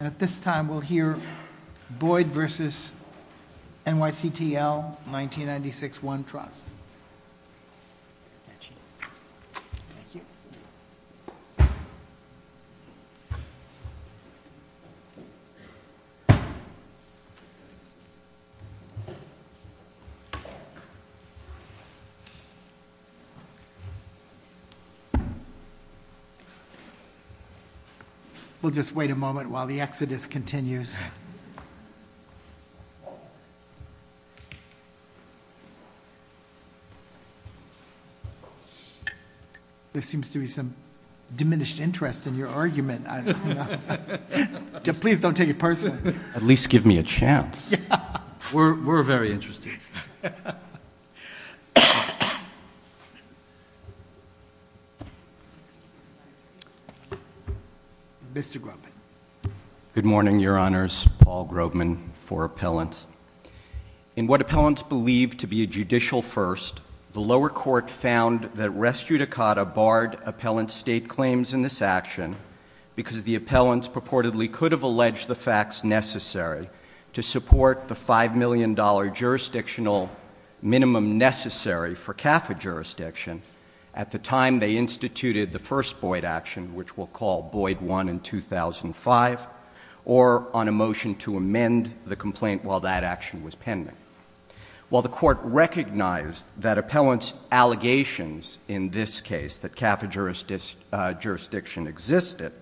And at this time, we'll hear Boyd v. NYCTL 1996-1 Trust. We'll just wait a moment while the exodus continues. There seems to be some diminished interest in your argument. Please don't take it personally. At least give me a chance. We're very interested. Mr. Grubin. Good morning, Your Honors. Paul Grubin for appellants. In what appellants believe to be a judicial first, the lower court found that res judicata barred appellant state claims in this action because the appellants purportedly could have alleged the facts necessary to support the $5 million jurisdictional minimum necessary for CAFA jurisdiction they instituted the first Boyd action, which we'll call Boyd 1 in 2005, or on a motion to amend the complaint while that action was pending. While the court recognized that appellants' allegations in this case, that CAFA jurisdiction existed,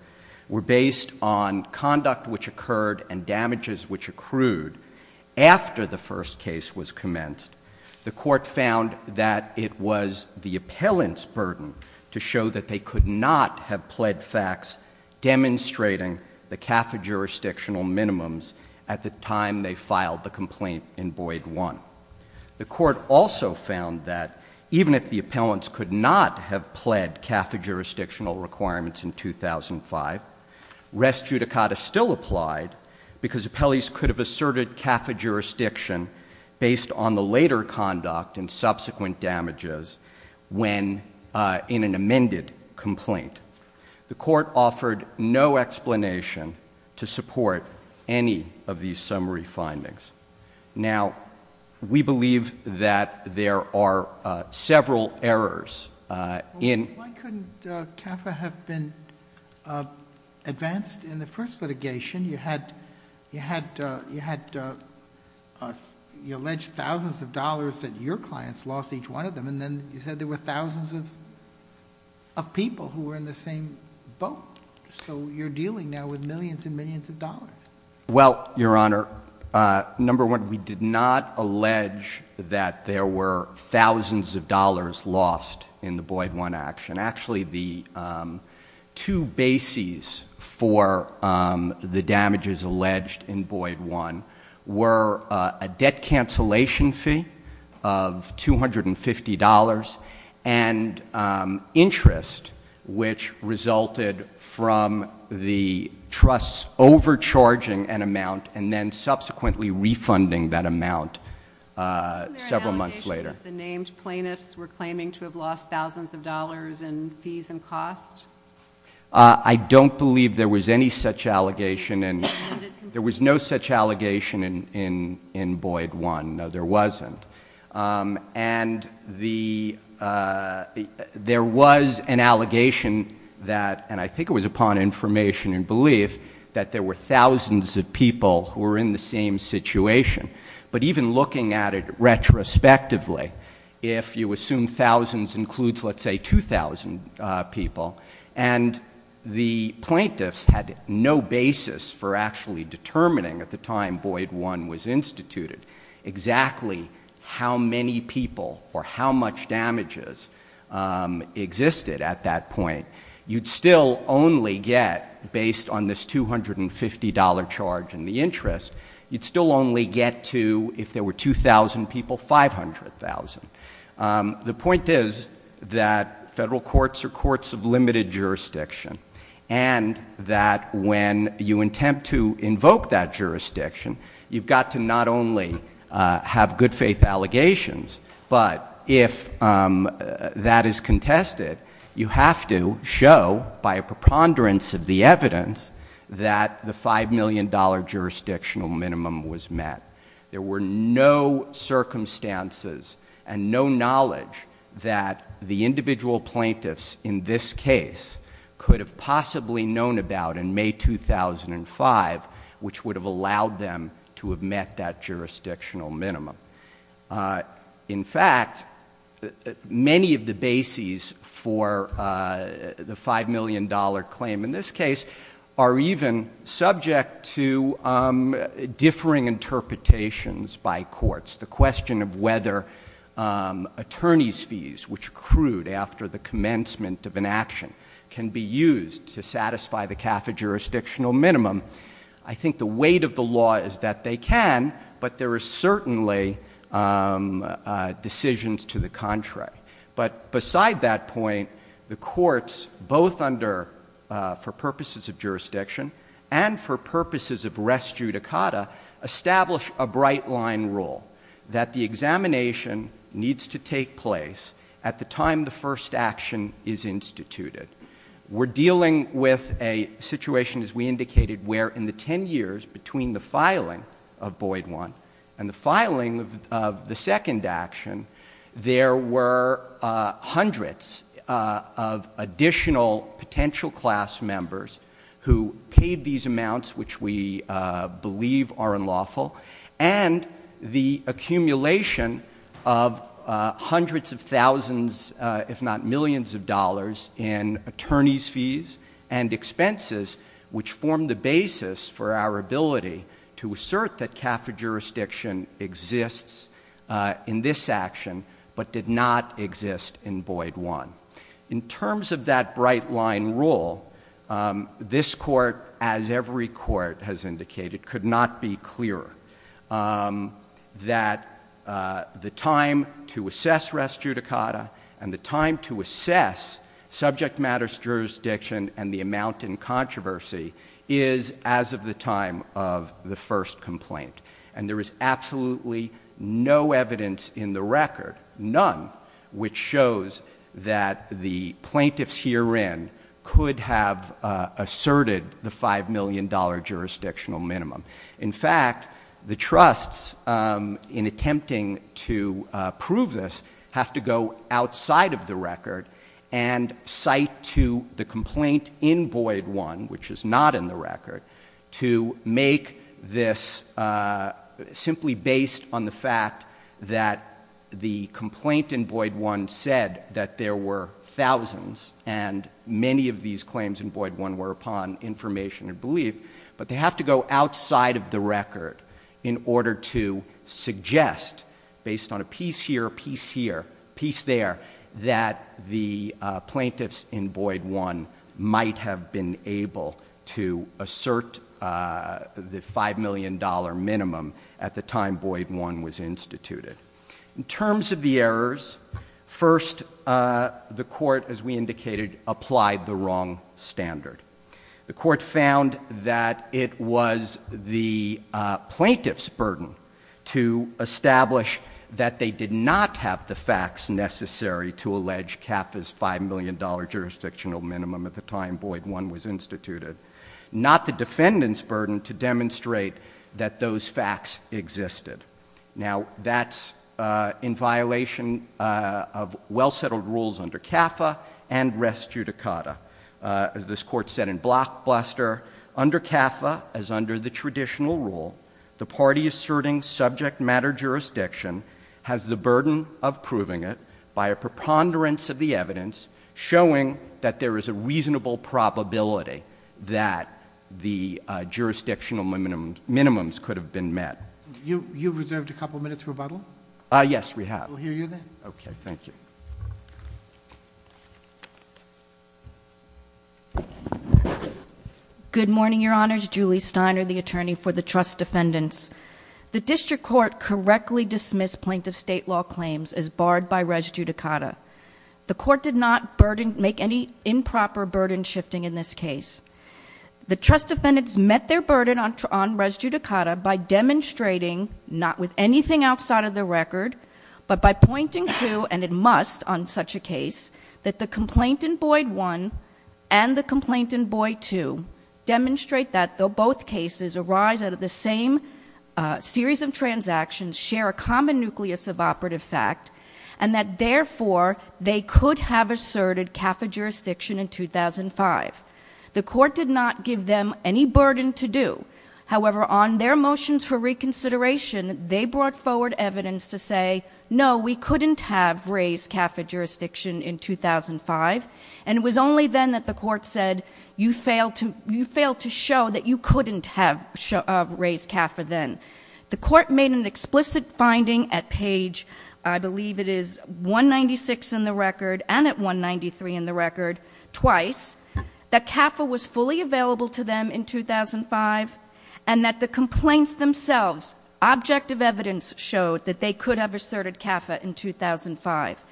were based on conduct which occurred and damages which accrued after the first case was commenced, the court found that it was the appellant's burden to show that they could not have pled facts demonstrating the CAFA jurisdictional minimums at the time they filed the complaint in Boyd 1. The court also found that even if the appellants could not have pled CAFA jurisdictional requirements in 2005, res judicata still applied because appellees could have asserted CAFA jurisdiction based on the later conduct and subsequent damages when in an amended complaint. The court offered no explanation to support any of these summary findings. Now, we believe that there are several errors in... Why couldn't CAFA have been advanced in the first litigation? You had... You alleged thousands of dollars that your clients lost, each one of them, and then you said there were thousands of people who were in the same boat. So you're dealing now with millions and millions of dollars. Well, Your Honor, number one, we did not allege that there were thousands of dollars lost in the Boyd 1 action. Actually, the two bases for the damages alleged in Boyd 1 were a debt cancellation fee of $250 and interest, which resulted from the trusts overcharging an amount and then subsequently refunding that amount several months later. The named plaintiffs were claiming to have lost thousands of dollars in fees and costs? I don't believe there was any such allegation. There was no such allegation in Boyd 1. No, there wasn't. And there was an allegation that, and I think it was upon information and belief, that there were thousands of people who were in the same situation. But even looking at it retrospectively, if you assume thousands includes, let's say, 2,000 people, and the plaintiffs had no basis for actually determining at the time Boyd 1 was instituted exactly how many people or how much damages existed at that point, you'd still only get, based on this $250 charge and the interest, you'd still only get to, if there were 2,000 people, 500,000. The point is that federal courts are courts of limited jurisdiction and that when you attempt to invoke that jurisdiction, you've got to not only have good faith allegations, but if that is contested, you have to show by a preponderance of the evidence that the $5 million jurisdictional minimum was met. There were no circumstances and no knowledge that the individual plaintiffs in this case could have possibly known about in May 2005, which would have allowed them to have met that jurisdictional minimum. In fact, many of the bases for the $5 million claim in this case are even subject to differing interpretations by courts. The question of whether attorney's fees, which accrued after the commencement of an action, can be used to satisfy the CAFA jurisdictional minimum, I think the weight of the law is that they can, but there are certainly decisions to the contrary. But beside that point, the courts, both for purposes of jurisdiction and for purposes of res judicata, establish a bright-line rule that the examination needs to take place at the time the first action is instituted. We're dealing with a situation, as we indicated, where in the 10 years between the filing of Boyd 1 and the filing of the second action, there were hundreds of additional potential class members who paid these amounts, which we believe are unlawful, and the accumulation of hundreds of thousands, if not millions of dollars in attorney's fees and expenses, which form the basis for our ability to assert that CAFA jurisdiction exists in this action, but did not exist in Boyd 1. In terms of that bright-line rule, this court, as every court has indicated, could not be clearer that the time to assess res judicata and the time to assess subject matters jurisdiction and the amount in controversy is as of the time of the first complaint. And there is absolutely no evidence in the record, none, which shows that the plaintiffs herein could have asserted the $5 million jurisdictional minimum. In fact, the trusts, in attempting to prove this, have to go outside of the record and cite to the complaint in Boyd 1, which is not in the record, to make this simply based on the fact that the complaint in Boyd 1 said that there were thousands, and many of these claims in Boyd 1 were upon information and belief, but they have to go outside of the record in order to suggest, based on a piece here, a piece here, a piece there, that the plaintiffs in Boyd 1 might have been able to assert the $5 million minimum at the time Boyd 1 was instituted. In terms of the errors, first, the court, as we indicated, applied the wrong standard. The court found that it was the plaintiff's burden to establish that they did not have the facts necessary to allege CAFA's $5 million jurisdictional minimum at the time Boyd 1 was instituted, not the defendant's burden to demonstrate that those facts existed. Now, that's in violation of well-settled rules under CAFA and res judicata. As this court said in Blockbuster, under CAFA, as under the traditional rule, the party asserting subject matter jurisdiction has the burden of proving it by a preponderance of the evidence showing that there is a reasonable probability that the jurisdictional minimums could have been met. You've reserved a couple minutes for rebuttal? Yes, we have. We'll hear you then. Okay, thank you. Good morning, Your Honors. Julie Steiner, the attorney for the trust defendants. The district court correctly dismissed plaintiff's state law claims as barred by res judicata. The court did not make any improper burden shifting in this case. The trust defendants met their burden on res judicata by demonstrating, not with anything outside of the record, but by pointing to, and it must on such a case, that the complaint in Boyd 1 and the complaint in Boyd 2 demonstrate that both cases arise out of the same series of transactions, share a common nucleus of operative fact, and that, therefore, they could have asserted CAFA jurisdiction in 2005. The court did not give them any burden to do. However, on their motions for reconsideration, they brought forward evidence to say, no, we couldn't have raised CAFA jurisdiction in 2005, and it was only then that the court said, you failed to show that you couldn't have raised CAFA then. The court made an explicit finding at page, I believe it is 196 in the record, and at 193 in the record, twice, that CAFA was fully available to them in 2005 and that the complaints themselves, objective evidence showed that they could have asserted CAFA in 2005.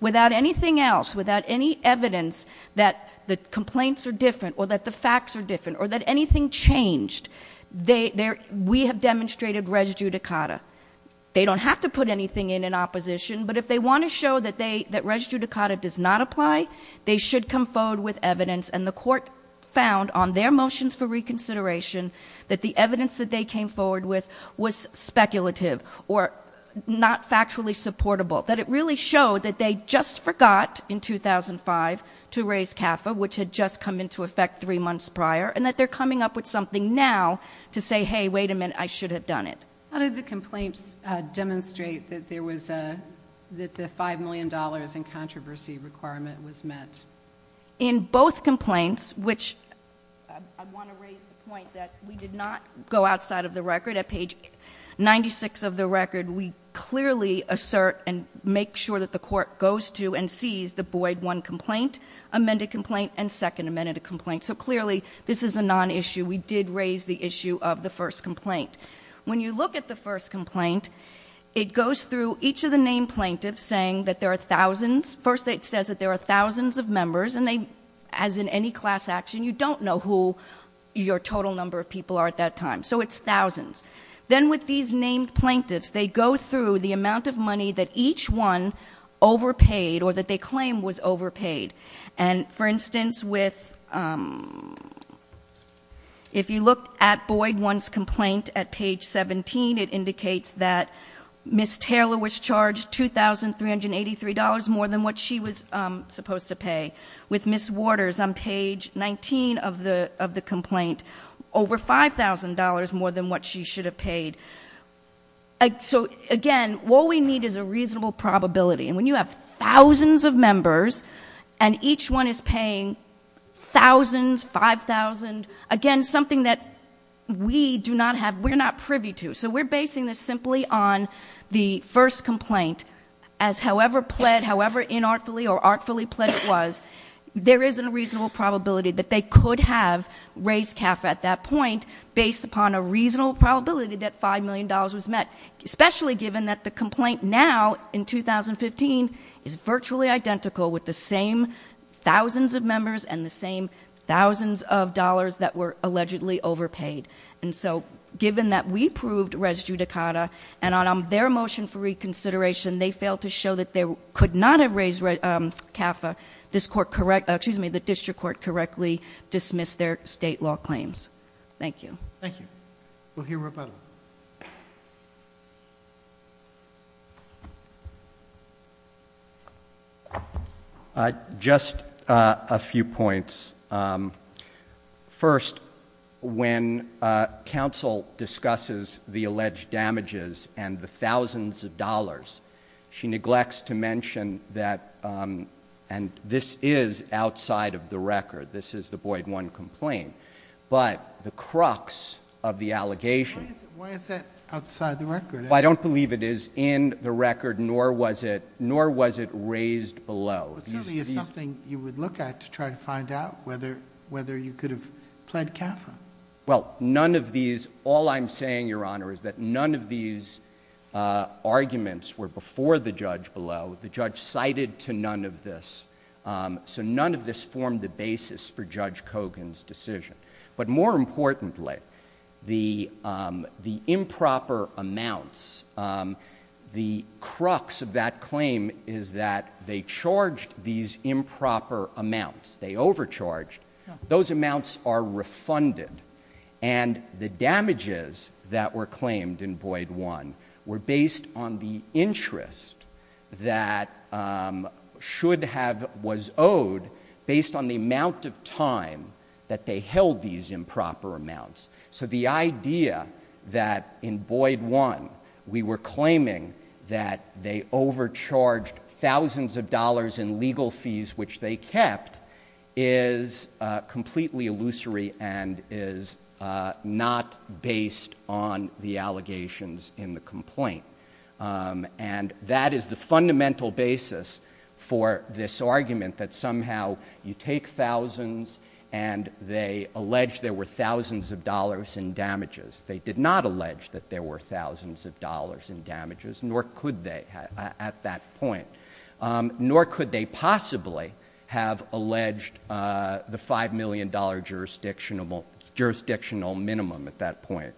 Without anything else, without any evidence that the complaints are different or that the facts are different or that anything changed, we have demonstrated res judicata. They don't have to put anything in in opposition, but if they want to show that res judicata does not apply, they should come forward with evidence, and the court found on their motions for reconsideration that the evidence that they came forward with was speculative or not factually supportable, that it really showed that they just forgot in 2005 to raise CAFA, which had just come into effect three months prior, and that they're coming up with something now to say, hey, wait a minute, I should have done it. How did the complaints demonstrate that the $5 million in controversy requirement was met? In both complaints, which I want to raise the point that we did not go outside of the record. At page 96 of the record, we clearly assert and make sure that the court goes to and sees the Boyd 1 complaint, amended complaint, and second amended complaint. So clearly, this is a nonissue. We did raise the issue of the first complaint. When you look at the first complaint, it goes through each of the named plaintiffs saying that there are thousands. First, it says that there are thousands of members, and as in any class action, you don't know who your total number of people are at that time, so it's thousands. Then with these named plaintiffs, they go through the amount of money that each one overpaid or that they claim was overpaid. For instance, if you look at Boyd 1's complaint at page 17, it indicates that Ms. Taylor was charged $2,383 more than what she was supposed to pay. With Ms. Waters on page 19 of the complaint, over $5,000 more than what she should have paid. Again, what we need is a reasonable probability. And when you have thousands of members, and each one is paying thousands, 5,000, again, something that we do not have, we're not privy to. So we're basing this simply on the first complaint, as however plead, however inartfully or artfully pledged it was, there is a reasonable probability that they could have raised CAF at that point based upon a reasonable probability that $5 million was met. Especially given that the complaint now, in 2015, is virtually identical with the same thousands of members and the same thousands of dollars that were allegedly overpaid. And so, given that we proved res judicata, and on their motion for reconsideration, they failed to show that they could not have raised CAF, the district court correctly dismissed their state law claims. Thank you. Thank you. We'll hear from. Just a few points. First, when counsel discusses the alleged damages and the thousands of dollars, she neglects to mention that, and this is outside of the record, this is the Boyd 1 complaint. But the crux of the allegation. Why is that outside the record? I don't believe it is in the record, nor was it raised below. It certainly is something you would look at to try to find out whether you could have pled CAF. Well, none of these, all I'm saying, Your Honor, is that none of these arguments were before the judge below. The judge cited to none of this. So none of this formed the basis for Judge Kogan's decision. But more importantly, the improper amounts, the crux of that claim is that they charged these improper amounts. They overcharged. Those amounts are refunded. And the damages that were claimed in Boyd 1 were based on the interest that should have, was owed based on the amount of time that they held these improper amounts. So the idea that in Boyd 1 we were claiming that they overcharged thousands of dollars in legal fees, which they kept, is completely illusory and is not based on the allegations in the complaint. And that is the fundamental basis for this argument that somehow you take thousands and they allege there were thousands of dollars in damages. They did not allege that there were thousands of dollars in damages, nor could they at that point. Nor could they possibly have alleged the $5 million jurisdictional minimum at that point.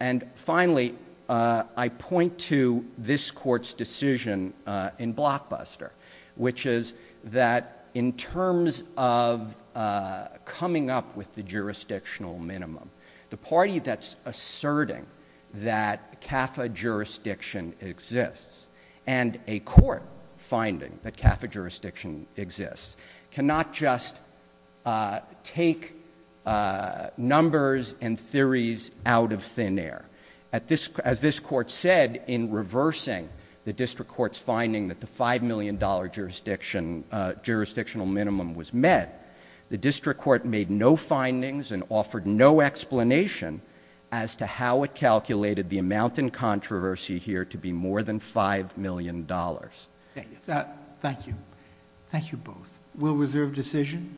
And finally, I point to this court's decision in Blockbuster, which is that in terms of coming up with the jurisdictional minimum, the party that's asserting that CAFA jurisdiction exists and a court finding that CAFA jurisdiction exists, cannot just take numbers and theories out of thin air. As this court said in reversing the district court's finding that the $5 million jurisdictional minimum was met, the district court made no findings and offered no explanation as to how it calculated the amount in controversy here to be more than $5 million. Thank you. Thank you. Thank you both. We'll reserve decision.